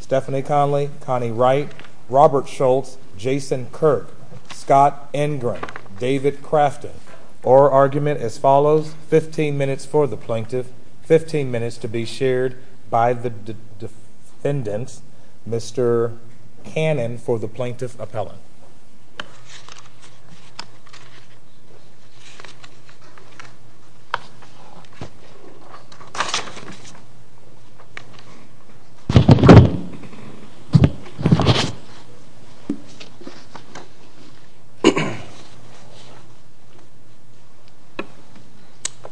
Stephanie Conley, Connie Wright, Robert Schultz, Jason Kirk, Scott Engren, David Crafton. Or argument as follows, 15 minutes for the plaintiff, 15 minutes to be shared by the defendants. Mr. Cannon for the plaintiff appellant. Good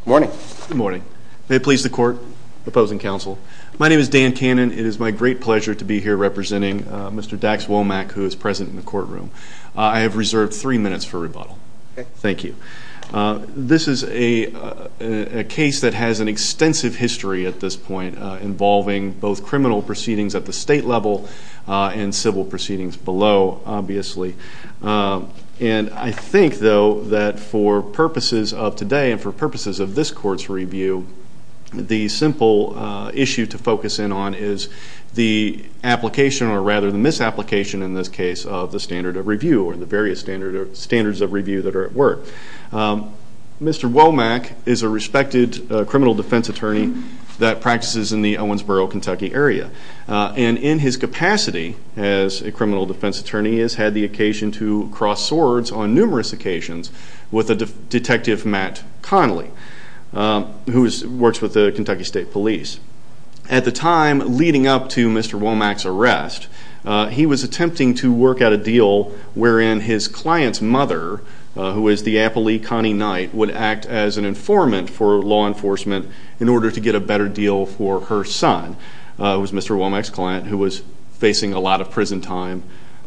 morning. Good morning. May it please the court, opposing counsel. My name is Dan Cannon. It is my great pleasure to be here representing Mr. Dax Womack who is present in the courtroom. I have reserved three minutes for rebuttal. Thank you. This is a case that has an extensive history at this point involving both criminal proceedings at the state level and civil proceedings below, obviously. And I think though that for purposes of today and for purposes of this court's review, the simple issue to focus in on is the application or rather the misapplication in this case of the standard of review or the various standards of review that are at work. Mr. Womack is a respected criminal defense attorney that practices in the Owensboro, Kentucky area. And in his capacity as a criminal defense attorney, he has had the occasion to cross swords on numerous occasions with Detective Matt Connelly, who works with the Kentucky State Police. At the time leading up to Mr. Womack's arrest, he was attempting to work out a deal wherein his client's mother, who is the appellee Connie Knight, would act as an informant for law enforcement in order to get a better deal for her son, who was Mr. Womack's client, who was facing a lot of prison time.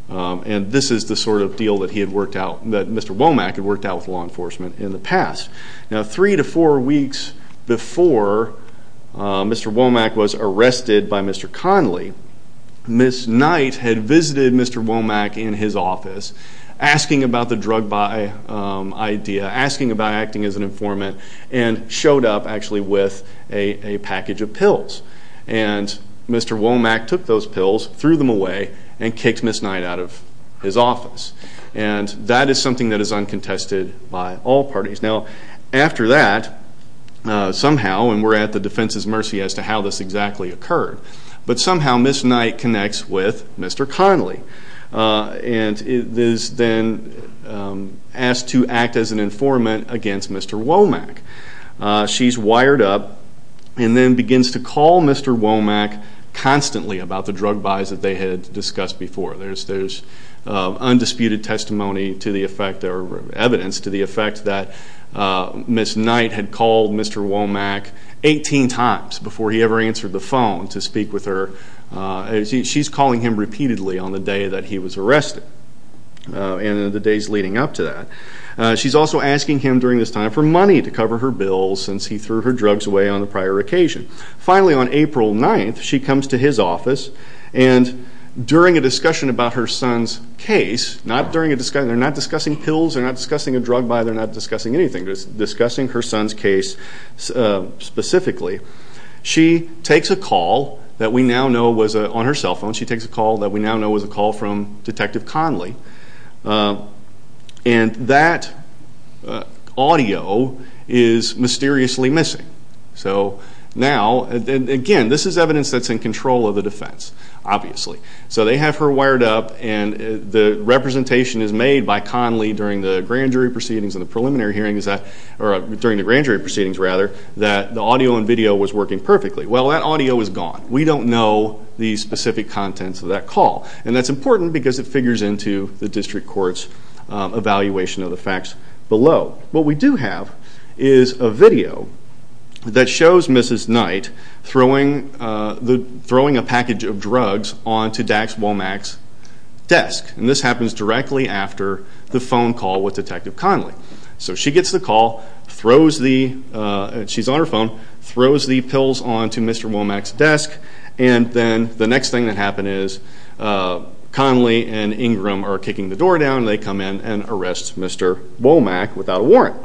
And this is the sort of deal that he had worked out, that Mr. Womack had worked out with law enforcement in the past. Now three to four weeks before Mr. Womack was arrested by Mr. Connelly, Ms. Knight had visited Mr. Womack in his office asking about the drug buy idea, asking about acting as an informant, and showed up actually with a package of pills. And Mr. Womack took those pills, threw them away, and kicked Ms. Knight out of his office. And that is something that is uncontested by all parties. Now after that, somehow, and we're at the defense's mercy as to how this exactly occurred, but somehow Ms. Knight connects with Mr. Connelly and is then asked to act as an informant against Mr. Womack. She's wired up and then begins to call Mr. Womack constantly about the drug buys that they had discussed before. There's undisputed testimony to the effect, or evidence to the effect, that Ms. Knight had called Mr. Womack 18 times before he ever answered the phone to speak with her. She's calling him repeatedly on the day that he was arrested and in the days leading up to that. She's also asking him during this time for money to cover her bills since he threw her drugs away on a prior occasion. Finally, on April 9th, she comes to his office and during a discussion about her son's case, they're not discussing pills, they're not discussing a drug buy, they're not discussing anything. They're discussing her son's case specifically. She takes a call that we now know was on her cell phone. She takes a call that we now know was a call from Detective Connelly. And that audio is mysteriously missing. So now, again, this is evidence that's in control of the defense, obviously. So they have her wired up and the representation is made by Connelly during the grand jury proceedings and the preliminary hearings that, or during the grand jury proceedings rather, that the audio and video was working perfectly. Well, that audio is gone. We don't know the specific contents of that call. And that's important because it figures into the district court's evaluation of the facts below. What we do have is a video that shows Mrs. Knight throwing a package of drugs onto Dax Womack's desk. And this happens directly after the phone call with Detective Connelly. So she gets the call, she's on her phone, throws the pills onto Mr. Womack's desk, and then the next thing that happens is Connelly and Ingram are kicking the door down and they come in and arrest Mr. Womack without a warrant.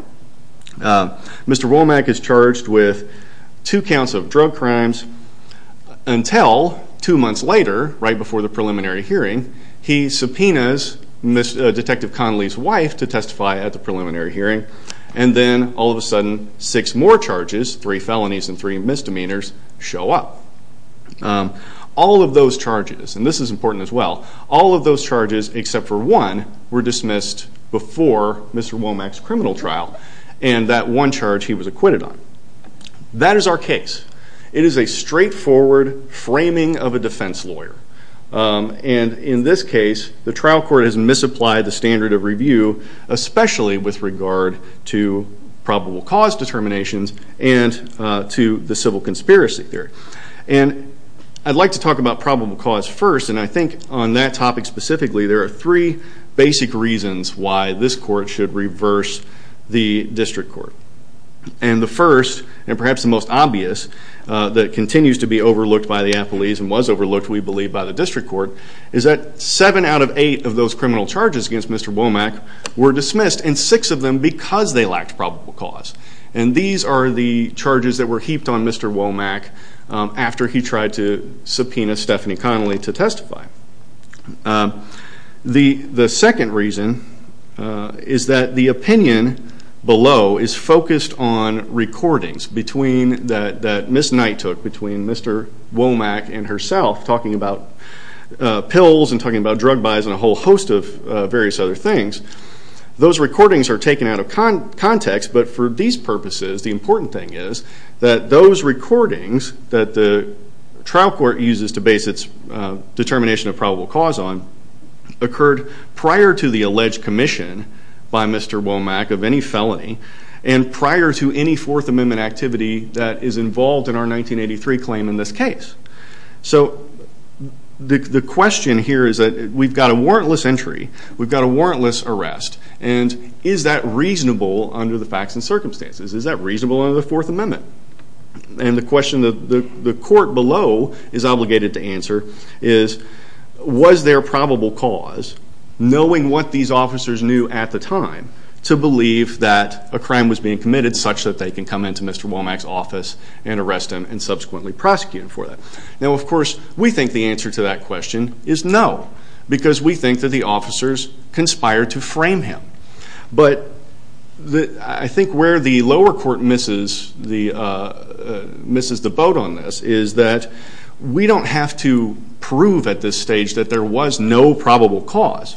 Mr. Womack is charged with two counts of drug crimes until two months later, right before the preliminary hearing, he subpoenas Detective Connelly's wife to testify at the preliminary hearing, and then all of a sudden six more charges, three felonies and three misdemeanors, show up. All of those charges, and this is important as well, all of those charges except for one were dismissed before Mr. Womack's criminal trial and that one charge he was acquitted on. That is our case. It is a straightforward framing of a defense lawyer. And in this case, the trial court has misapplied the standard of review, especially with regard to probable cause determinations and to the civil conspiracy theory. And I'd like to talk about probable cause first, and I think on that topic specifically there are three basic reasons why this court should reverse the district court. And the first, and perhaps the most obvious, that continues to be overlooked by the appellees and was overlooked we believe by the district court, is that seven out of eight of those criminal charges against Mr. Womack were dismissed, and six of them because they lacked probable cause. And these are the charges that were heaped on Mr. Womack after he tried to subpoena Stephanie Connolly to testify. The second reason is that the opinion below is focused on recordings that Ms. Knight took between Mr. Womack and herself talking about pills and talking about drug buys and a whole host of various other things. Those recordings are taken out of context, but for these purposes the important thing is that those recordings that the trial court uses to base its determination of probable cause on occurred prior to the alleged commission by Mr. Womack of any felony and prior to any Fourth Amendment activity that is involved in our 1983 claim in this case. So the question here is that we've got a warrantless entry, we've got a warrantless arrest, and is that reasonable under the facts and circumstances? Is that reasonable under the Fourth Amendment? And the question that the court below is obligated to answer is, was there probable cause, knowing what these officers knew at the time, to believe that a crime was being committed such that they can come into Mr. Womack's office and arrest him and subsequently prosecute him for that? Now, of course, we think the answer to that question is no because we think that the officers conspired to frame him. But I think where the lower court misses the boat on this is that we don't have to prove at this stage that there was no probable cause.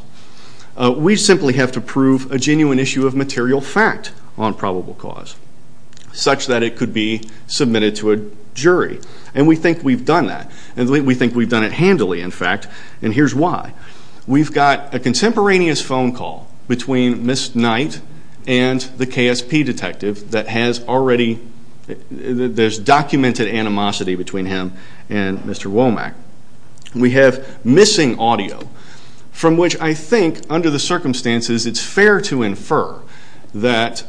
We simply have to prove a genuine issue of material fact on probable cause, such that it could be submitted to a jury. And we think we've done that, and we think we've done it handily, in fact. And here's why. We've got a contemporaneous phone call between Ms. Knight and the KSP detective that has already documented animosity between him and Mr. Womack. We have missing audio from which I think, under the circumstances, it's fair to infer that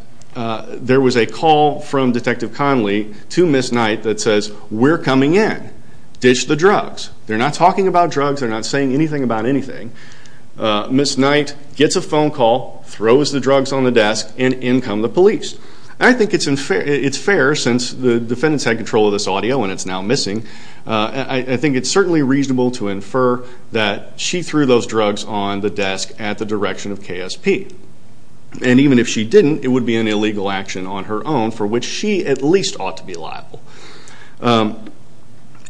there was a call from Detective Conley to Ms. Knight that says, We're coming in. Ditch the drugs. They're not talking about drugs. They're not saying anything about anything. Ms. Knight gets a phone call, throws the drugs on the desk, and in come the police. I think it's fair, since the defendants had control of this audio and it's now missing, I think it's certainly reasonable to infer that she threw those drugs on the desk at the direction of KSP. And even if she didn't, it would be an illegal action on her own for which she at least ought to be liable.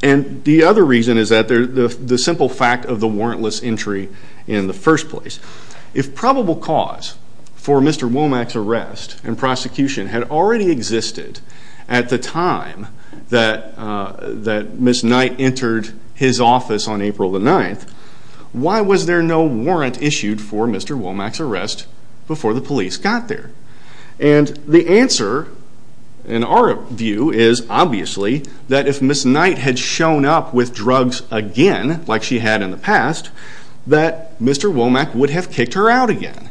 And the other reason is the simple fact of the warrantless entry in the first place. If probable cause for Mr. Womack's arrest and prosecution had already existed at the time that Ms. Knight entered his office on April the 9th, why was there no warrant issued for Mr. Womack's arrest before the police got there? And the answer, in our view, is obviously that if Ms. Knight had shown up with drugs again, like she had in the past, that Mr. Womack would have kicked her out again.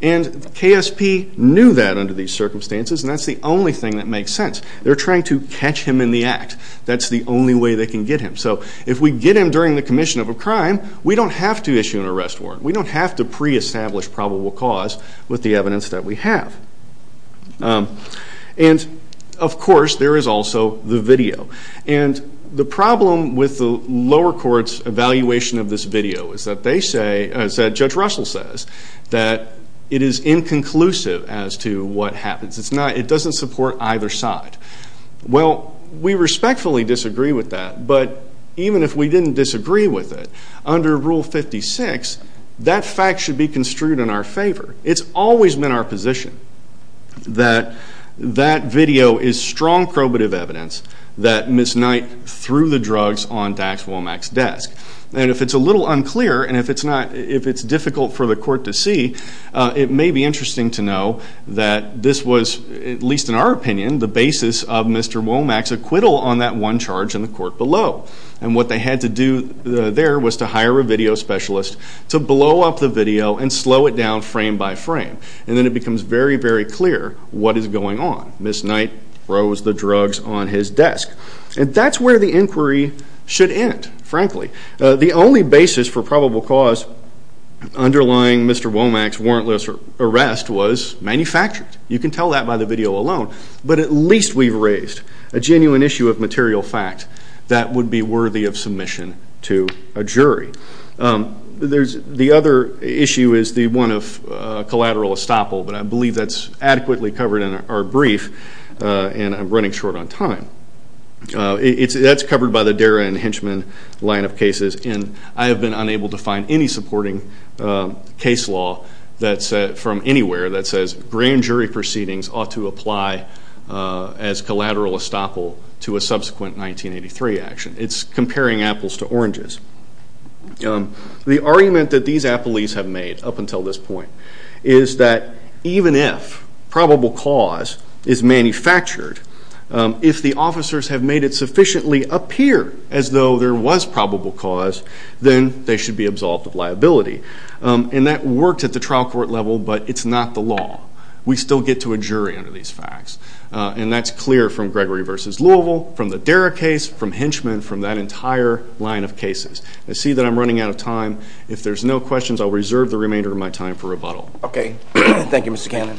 And KSP knew that under these circumstances, and that's the only thing that makes sense. They're trying to catch him in the act. That's the only way they can get him. So if we get him during the commission of a crime, we don't have to issue an arrest warrant. We don't have to pre-establish probable cause with the evidence that we have. And, of course, there is also the video. And the problem with the lower court's evaluation of this video is that they say, as Judge Russell says, that it is inconclusive as to what happens. It doesn't support either side. Well, we respectfully disagree with that, but even if we didn't disagree with it, under Rule 56, that fact should be construed in our favor. It's always been our position that that video is strong probative evidence that Ms. Knight threw the drugs on Dax Womack's desk. And if it's a little unclear and if it's difficult for the court to see, it may be interesting to know that this was, at least in our opinion, the basis of Mr. Womack's acquittal on that one charge in the court below. And what they had to do there was to hire a video specialist to blow up the video and slow it down frame by frame. And then it becomes very, very clear what is going on. Ms. Knight throws the drugs on his desk. And that's where the inquiry should end, frankly. The only basis for probable cause underlying Mr. Womack's warrantless arrest was manufactured. You can tell that by the video alone. But at least we've raised a genuine issue of material fact that would be worthy of submission to a jury. The other issue is the one of collateral estoppel, but I believe that's adequately covered in our brief, and I'm running short on time. That's covered by the Dara and Henchman line of cases, and I have been unable to find any supporting case law from anywhere that says grand jury proceedings ought to apply as collateral estoppel to a subsequent 1983 action. It's comparing apples to oranges. The argument that these appellees have made up until this point is that even if probable cause is manufactured, if the officers have made it sufficiently appear as though there was probable cause, then they should be absolved of liability. And that worked at the trial court level, but it's not the law. We still get to a jury under these facts, and that's clear from Gregory v. Louisville, from the Dara case, from Henchman, from that entire line of cases. I see that I'm running out of time. If there's no questions, I'll reserve the remainder of my time for rebuttal. Okay. Thank you, Mr. Cannon.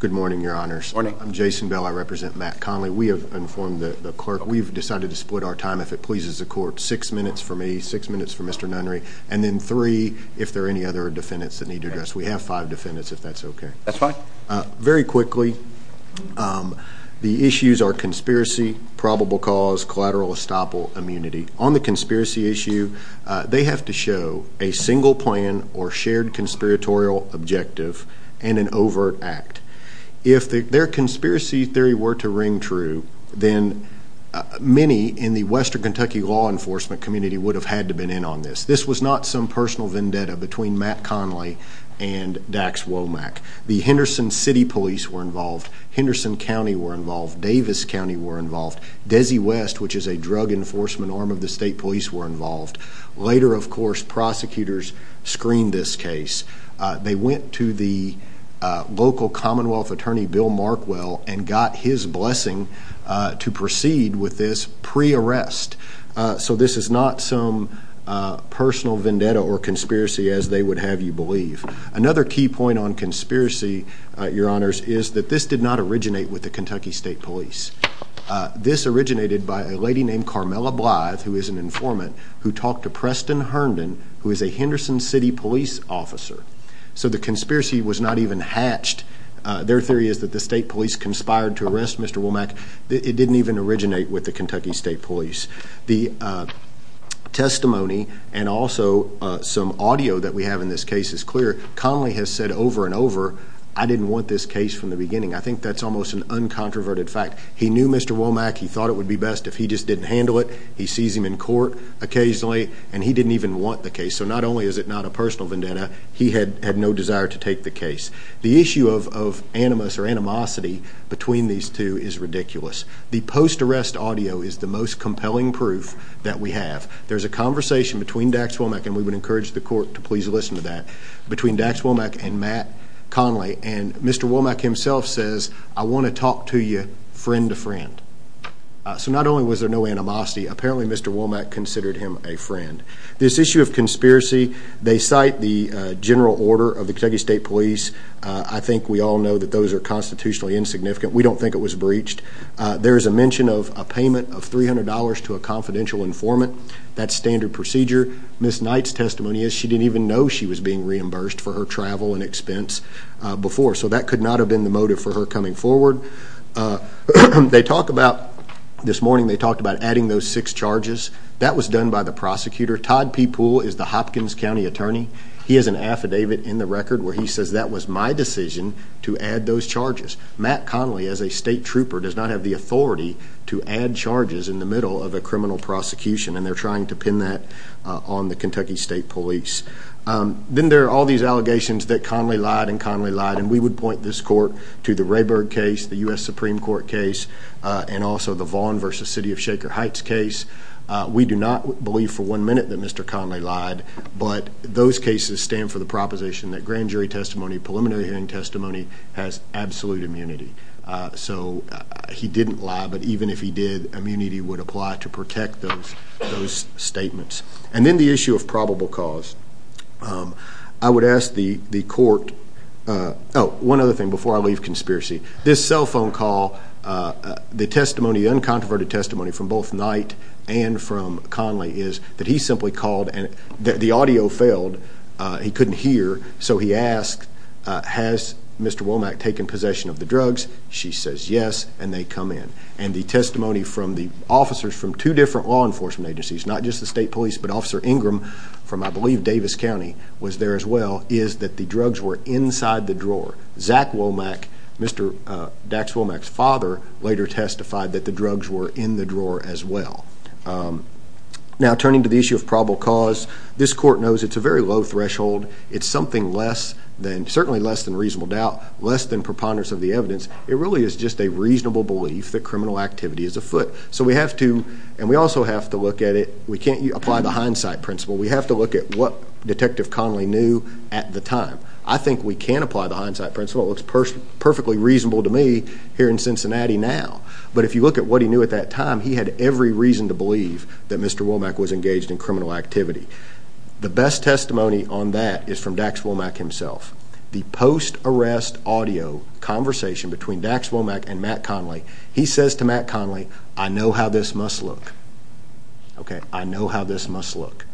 Good morning, Your Honors. Good morning. I'm Jason Bell. I represent Matt Conley. We have informed the clerk. We've decided to split our time if it pleases the court. Six minutes for me, six minutes for Mr. Nunry, and then three if there are any other defendants that need to address. We have five defendants, if that's okay. That's fine. Very quickly, the issues are conspiracy, probable cause, collateral estoppel immunity. On the conspiracy issue, they have to show a single plan or shared conspiratorial objective and an overt act. If their conspiracy theory were to ring true, then many in the western Kentucky law enforcement community would have had to been in on this. This was not some personal vendetta between Matt Conley and Dax Womack. The Henderson City Police were involved. Henderson County were involved. Davis County were involved. Desi West, which is a drug enforcement arm of the state police, were involved. Later, of course, prosecutors screened this case. They went to the local Commonwealth attorney, Bill Markwell, and got his blessing to proceed with this pre-arrest. So this is not some personal vendetta or conspiracy as they would have you believe. Another key point on conspiracy, Your Honors, is that this did not originate with the Kentucky State Police. This originated by a lady named Carmella Blythe, who is an informant, who talked to Preston Herndon, who is a Henderson City Police officer. So the conspiracy was not even hatched. Their theory is that the state police conspired to arrest Mr. Womack. It didn't even originate with the Kentucky State Police. The testimony and also some audio that we have in this case is clear. Conley has said over and over, I didn't want this case from the beginning. I think that's almost an uncontroverted fact. He knew Mr. Womack. He thought it would be best if he just didn't handle it. He sees him in court occasionally, and he didn't even want the case. So not only is it not a personal vendetta, he had no desire to take the case. The issue of animus or animosity between these two is ridiculous. The post-arrest audio is the most compelling proof that we have. There's a conversation between Dax Womack, and we would encourage the court to please listen to that, between Dax Womack and Matt Conley. And Mr. Womack himself says, I want to talk to you friend to friend. So not only was there no animosity, apparently Mr. Womack considered him a friend. This issue of conspiracy, they cite the general order of the Kentucky State Police. I think we all know that those are constitutionally insignificant. We don't think it was breached. There is a mention of a payment of $300 to a confidential informant. That's standard procedure. Ms. Knight's testimony is she didn't even know she was being reimbursed for her travel and expense before. So that could not have been the motive for her coming forward. They talk about, this morning they talked about adding those six charges. That was done by the prosecutor. Todd P. Poole is the Hopkins County attorney. He has an affidavit in the record where he says that was my decision to add those charges. Matt Conley, as a state trooper, does not have the authority to add charges in the middle of a criminal prosecution. And they're trying to pin that on the Kentucky State Police. Then there are all these allegations that Conley lied and Conley lied, and we would point this court to the Rayburg case, the U.S. Supreme Court case, and also the Vaughn v. City of Shaker Heights case. We do not believe for one minute that Mr. Conley lied, but those cases stand for the proposition that grand jury testimony, preliminary hearing testimony, has absolute immunity. So he didn't lie, but even if he did, immunity would apply to protect those statements. And then the issue of probable cause. I would ask the court, oh, one other thing before I leave conspiracy. This cell phone call, the testimony, the uncontroverted testimony from both Knight and from Conley, is that he simply called and the audio failed. He couldn't hear, so he asked, has Mr. Womack taken possession of the drugs? She says yes, and they come in. And the testimony from the officers from two different law enforcement agencies, not just the state police, but Officer Ingram from, I believe, Davis County was there as well, is that the drugs were inside the drawer. Zach Womack, Mr. Dax Womack's father, later testified that the drugs were in the drawer as well. Now, turning to the issue of probable cause, this court knows it's a very low threshold. It's something less than, certainly less than reasonable doubt, less than preponderance of the evidence. It really is just a reasonable belief that criminal activity is afoot. So we have to, and we also have to look at it, we can't apply the hindsight principle. We have to look at what Detective Conley knew at the time. I think we can apply the hindsight principle. It looks perfectly reasonable to me here in Cincinnati now. But if you look at what he knew at that time, he had every reason to believe that Mr. Womack was engaged in criminal activity. The best testimony on that is from Dax Womack himself. The post-arrest audio conversation between Dax Womack and Matt Conley, he says to Matt Conley, I know how this must look. I know how this must look.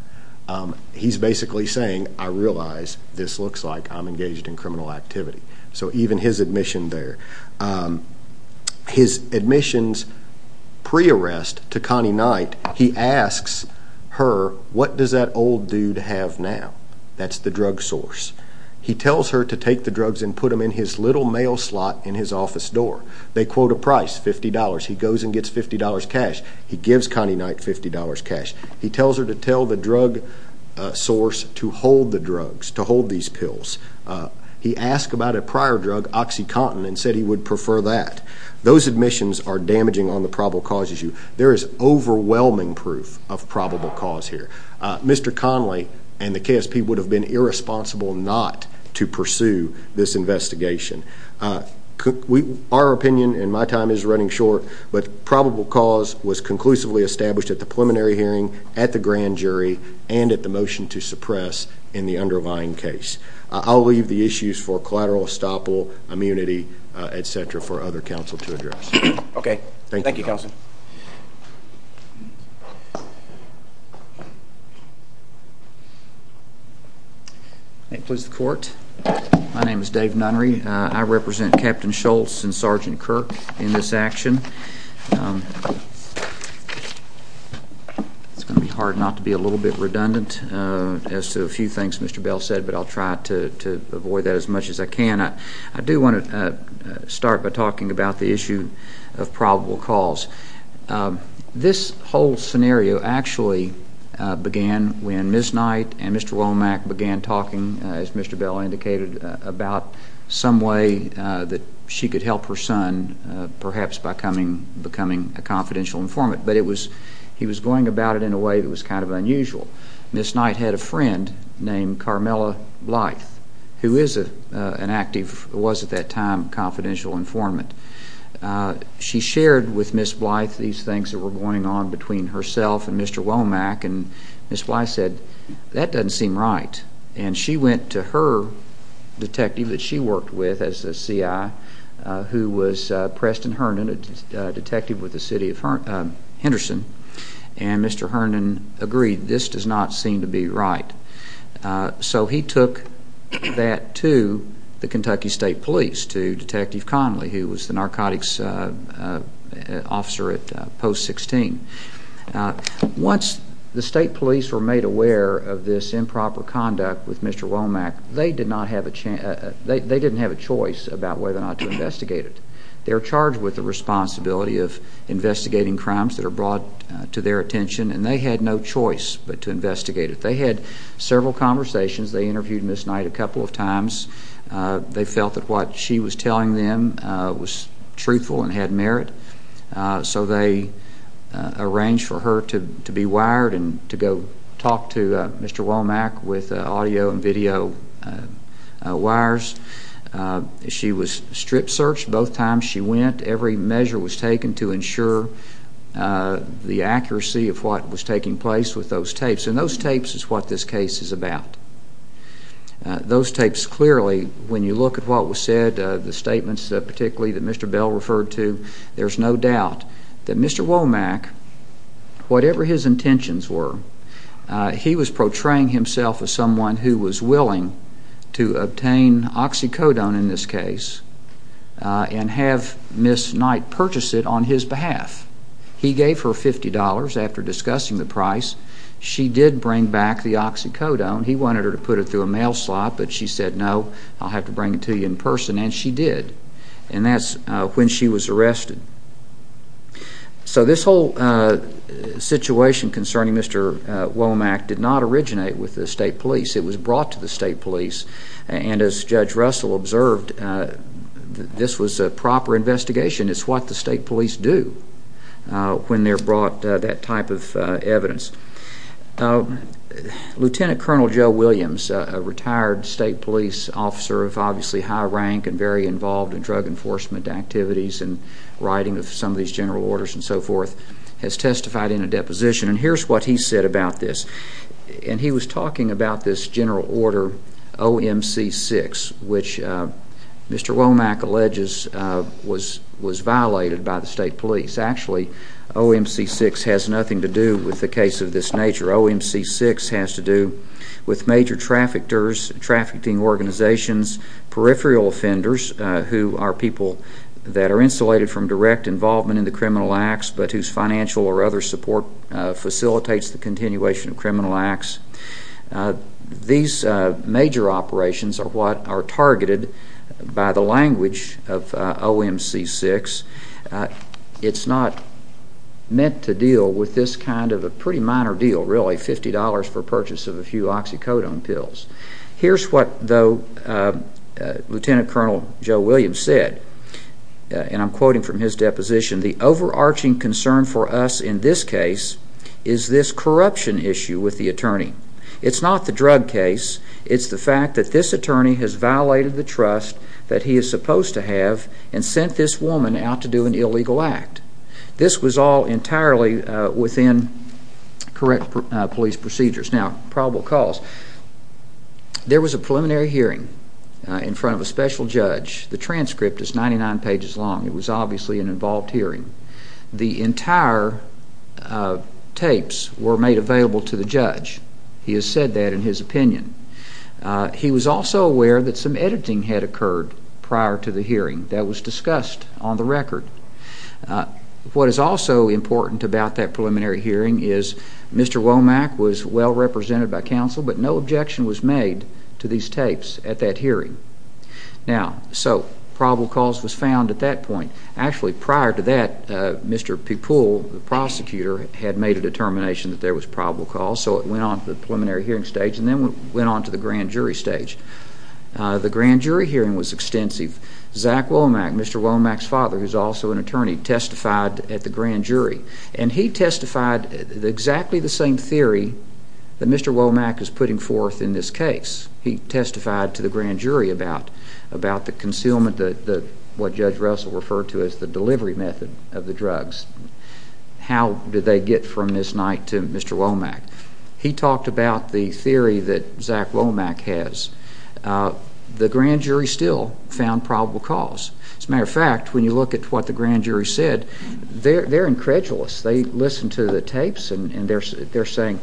He's basically saying, I realize this looks like I'm engaged in criminal activity. So even his admission there. His admissions pre-arrest to Connie Knight, he asks her, what does that old dude have now? That's the drug source. He tells her to take the drugs and put them in his little mail slot in his office door. They quote a price, $50. He goes and gets $50 cash. He gives Connie Knight $50 cash. He tells her to tell the drug source to hold the drugs, to hold these pills. He asked about a prior drug, OxyContin, and said he would prefer that. Those admissions are damaging on the probable cause issue. There is overwhelming proof of probable cause here. Mr. Conley and the KSP would have been irresponsible not to pursue this investigation. Our opinion and my time is running short, but probable cause was conclusively established at the preliminary hearing, at the grand jury, and at the motion to suppress in the underlying case. I'll leave the issues for collateral estoppel, immunity, et cetera, for other counsel to address. Okay. Thank you, counsel. May it please the court. My name is Dave Nunry. I represent Captain Schultz and Sergeant Kirk in this action. It's going to be hard not to be a little bit redundant as to a few things Mr. Bell said, but I'll try to avoid that as much as I can. I do want to start by talking about the issue of probable cause. This whole scenario actually began when Ms. Knight and Mr. Womack began talking, as Mr. Bell indicated, about some way that she could help her son perhaps by becoming a confidential informant, but he was going about it in a way that was kind of unusual. Ms. Knight had a friend named Carmella Blythe, who was at that time a confidential informant. She shared with Ms. Blythe these things that were going on between herself and Mr. Womack, and Ms. Blythe said, that doesn't seem right. And she went to her detective that she worked with as a CI, who was Preston Herndon, a detective with the city of Henderson, and Mr. Herndon agreed, this does not seem to be right. So he took that to the Kentucky State Police, to Detective Conley, who was the narcotics officer at Post 16. Once the state police were made aware of this improper conduct with Mr. Womack, they didn't have a choice about whether or not to investigate it. They're charged with the responsibility of investigating crimes that are brought to their attention, and they had no choice but to investigate it. They had several conversations. They interviewed Ms. Knight a couple of times. They felt that what she was telling them was truthful and had merit. So they arranged for her to be wired and to go talk to Mr. Womack with audio and video wires. She was strip searched both times she went. Every measure was taken to ensure the accuracy of what was taking place with those tapes, and those tapes is what this case is about. Those tapes clearly, when you look at what was said, the statements particularly that Mr. Bell referred to, there's no doubt that Mr. Womack, whatever his intentions were, he was portraying himself as someone who was willing to obtain oxycodone in this case and have Ms. Knight purchase it on his behalf. He gave her $50. After discussing the price, she did bring back the oxycodone. He wanted her to put it through a mail slot, but she said, no, I'll have to bring it to you in person, and she did. And that's when she was arrested. So this whole situation concerning Mr. Womack did not originate with the state police. It was brought to the state police. And as Judge Russell observed, this was a proper investigation. It's what the state police do when they're brought that type of evidence. Lieutenant Colonel Joe Williams, a retired state police officer of obviously high rank and very involved in drug enforcement activities and writing of some of these general orders and so forth, has testified in a deposition, and here's what he said about this. And he was talking about this general order OMC 6, which Mr. Womack alleges was violated by the state police. Actually, OMC 6 has nothing to do with the case of this nature. OMC 6 has to do with major traffickers, trafficking organizations, peripheral offenders, who are people that are insulated from direct involvement in the criminal acts, but whose financial or other support facilitates the continuation of criminal acts. These major operations are what are targeted by the language of OMC 6. It's not meant to deal with this kind of a pretty minor deal, really, $50 for purchase of a few oxycodone pills. Here's what, though, Lieutenant Colonel Joe Williams said, and I'm quoting from his deposition, the overarching concern for us in this case is this corruption issue with the attorney. It's not the drug case. It's the fact that this attorney has violated the trust that he is supposed to have and sent this woman out to do an illegal act. This was all entirely within correct police procedures. Now, probable cause. There was a preliminary hearing in front of a special judge. The transcript is 99 pages long. It was obviously an involved hearing. The entire tapes were made available to the judge. He has said that in his opinion. He was also aware that some editing had occurred prior to the hearing. That was discussed on the record. What is also important about that preliminary hearing is Mr. Womack was well represented by counsel, but no objection was made to these tapes at that hearing. Now, so probable cause was found at that point. Actually, prior to that, Mr. Pupul, the prosecutor, had made a determination that there was probable cause, so it went on to the preliminary hearing stage and then went on to the grand jury stage. The grand jury hearing was extensive. Zach Womack, Mr. Womack's father, who is also an attorney, testified at the grand jury, and he testified exactly the same theory that Mr. Womack is putting forth in this case. He testified to the grand jury about the concealment, what Judge Russell referred to as the delivery method of the drugs. How did they get from this night to Mr. Womack? He talked about the theory that Zach Womack has. The grand jury still found probable cause. As a matter of fact, when you look at what the grand jury said, they're incredulous. They listened to the tapes, and they're saying,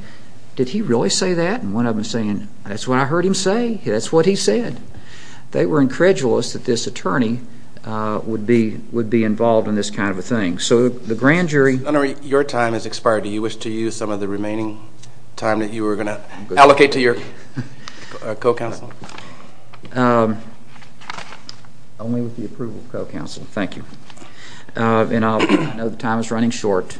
did he really say that? And one of them is saying, that's what I heard him say. That's what he said. They were incredulous that this attorney would be involved in this kind of a thing. So the grand jury Your time has expired. Do you wish to use some of the remaining time that you were going to allocate to your co-counsel? Only with the approval of co-counsel. Thank you. I know the time is running short.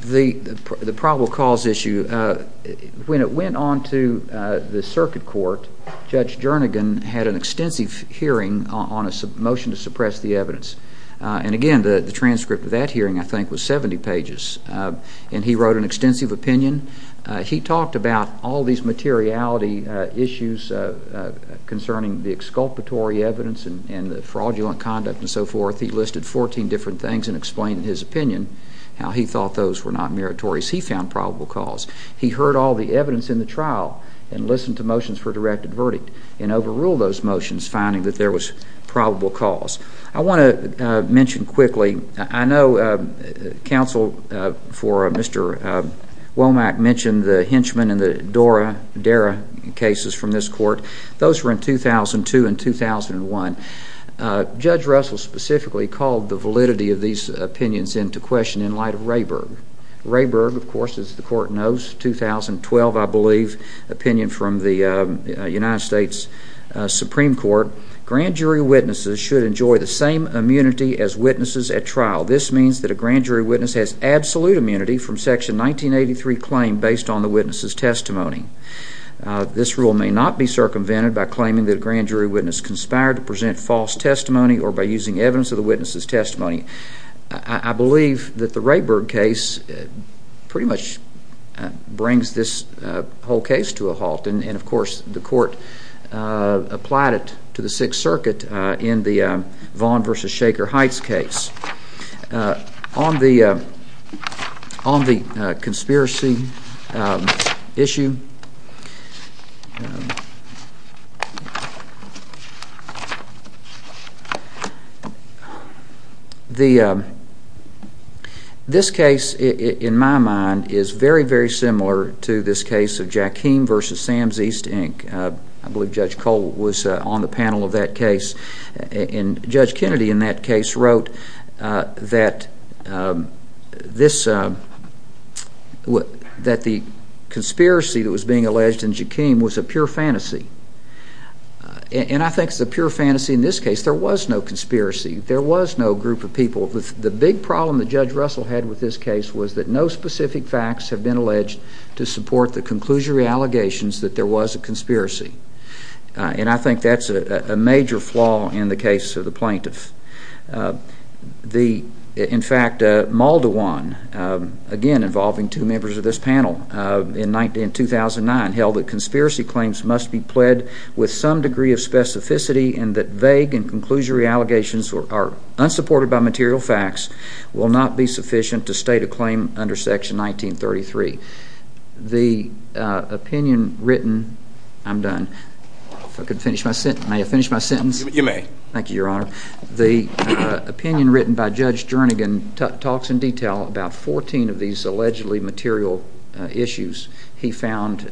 The probable cause issue, when it went on to the circuit court, Judge Jernigan had an extensive hearing on a motion to suppress the evidence. And again, the transcript of that hearing, I think, was 70 pages. And he wrote an extensive opinion. He talked about all these materiality issues concerning the exculpatory evidence and the fraudulent conduct and so forth. He listed 14 different things and explained in his opinion how he thought those were not meritorious. He found probable cause. He heard all the evidence in the trial and listened to motions for a directed verdict and overruled those motions, finding that there was probable cause. I want to mention quickly, I know counsel for Mr. Womack mentioned the Hinchman and the Dara cases from this court. Those were in 2002 and 2001. Judge Russell specifically called the validity of these opinions into question in light of Rayburg. Rayburg, of course, as the court knows, 2012, I believe, opinion from the United States Supreme Court. Grand jury witnesses should enjoy the same immunity as witnesses at trial. This means that a grand jury witness has absolute immunity from Section 1983 claim based on the witness's testimony. This rule may not be circumvented by claiming that a grand jury witness conspired to present false testimony I believe that the Rayburg case pretty much brings this whole case to a halt. And, of course, the court applied it to the Sixth Circuit in the Vaughn v. Shaker Heights case. On the conspiracy issue, this case, in my mind, is very, very similar to this case of Jaquim v. Sams East Inc. I believe Judge Cole was on the panel of that case. And Judge Kennedy in that case wrote that the conspiracy that was being alleged in Jaquim was a pure fantasy. And I think it's a pure fantasy in this case. There was no conspiracy. There was no group of people. The big problem that Judge Russell had with this case was that no specific facts have been alleged to support the conclusory allegations that there was a conspiracy. And I think that's a major flaw in the case of the plaintiff. In fact, Maldawan, again involving two members of this panel in 2009, held that conspiracy claims must be pled with some degree of specificity and that vague and conclusory allegations are unsupported by material facts will not be sufficient to state a claim under Section 1933. The opinion written by Judge Jernigan talks in detail about 14 of these allegedly material issues he found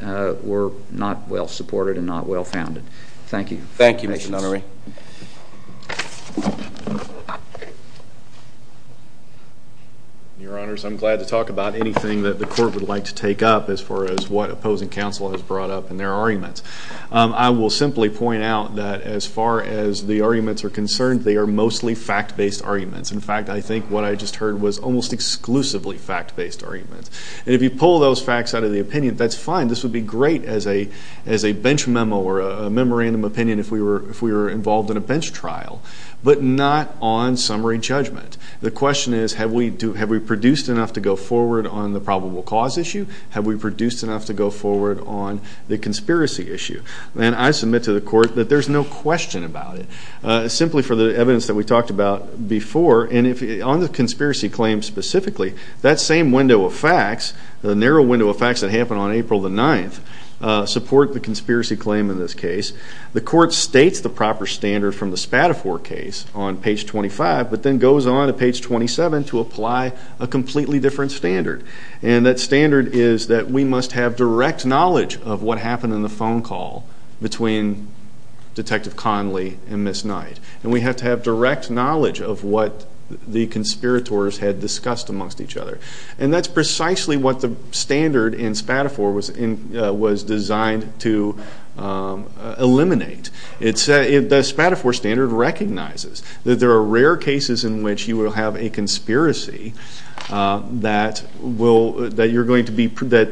were not well supported and not well founded. Thank you. Thank you, Mr. Nunnery. Your Honors, I'm glad to talk about anything that the court would like to take up as far as what opposing counsel has brought up in their arguments. I will simply point out that as far as the arguments are concerned, they are mostly fact-based arguments. In fact, I think what I just heard was almost exclusively fact-based arguments. And if you pull those facts out of the opinion, that's fine. This would be great as a bench memo or a memorandum opinion if we were involved in a bench trial, but not on summary judgment. The question is, have we produced enough to go forward on the probable cause issue? Have we produced enough to go forward on the conspiracy issue? And I submit to the court that there's no question about it, simply for the evidence that we talked about before. And on the conspiracy claim specifically, that same window of facts, the narrow window of facts that happened on April the 9th, support the conspiracy claim in this case. The court states the proper standard from the Spadafore case on page 25, but then goes on to page 27 to apply a completely different standard. And that standard is that we must have direct knowledge of what happened in the phone call between Detective Conley and Ms. Knight. And we have to have direct knowledge of what the conspirators had discussed amongst each other. And that's precisely what the standard in Spadafore was designed to eliminate. The Spadafore standard recognizes that there are rare cases in which you will have a conspiracy that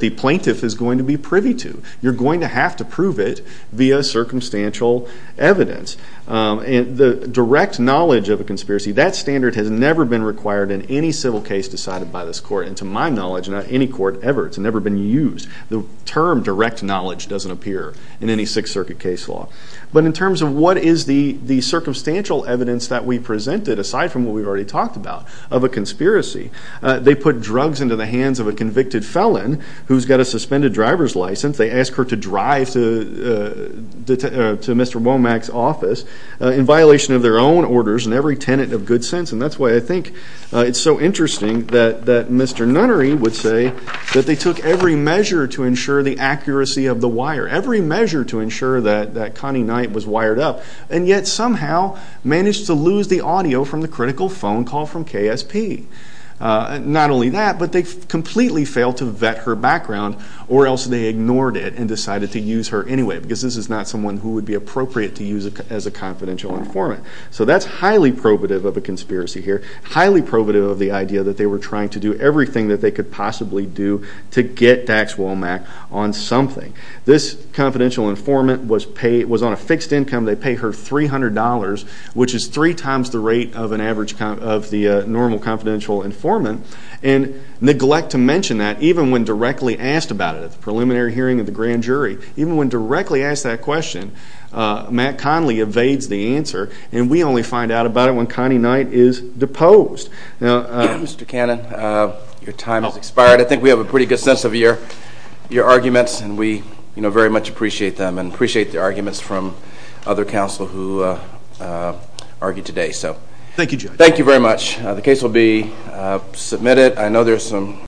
the plaintiff is going to be privy to. You're going to have to prove it via circumstantial evidence. And the direct knowledge of a conspiracy, that standard has never been required in any civil case decided by this court. And to my knowledge, in any court ever, it's never been used. The term direct knowledge doesn't appear in any Sixth Circuit case law. But in terms of what is the circumstantial evidence that we presented, aside from what we've already talked about, of a conspiracy, they put drugs into the hands of a convicted felon who's got a suspended driver's license. They asked her to drive to Mr. Womack's office in violation of their own orders and every tenet of good sense. And that's why I think it's so interesting that Mr. Nunnery would say that they took every measure to ensure the accuracy of the wire, every measure to ensure that Connie Knight was wired up, and yet somehow managed to lose the audio from the critical phone call from KSP. Not only that, but they completely failed to vet her background, or else they ignored it and decided to use her anyway, because this is not someone who would be appropriate to use as a confidential informant. So that's highly probative of a conspiracy here, highly probative of the idea that they were trying to do everything that they could possibly do to get Dax Womack on something. This confidential informant was on a fixed income. They pay her $300, which is three times the rate of the normal confidential informant, and neglect to mention that even when directly asked about it at the preliminary hearing of the grand jury. Even when directly asked that question, Matt Conley evades the answer, and we only find out about it when Connie Knight is deposed. Mr. Cannon, your time has expired. I think we have a pretty good sense of your arguments, and we very much appreciate them, and appreciate the arguments from other counsel who argued today. Thank you, Judge. Thank you very much. The case will be submitted.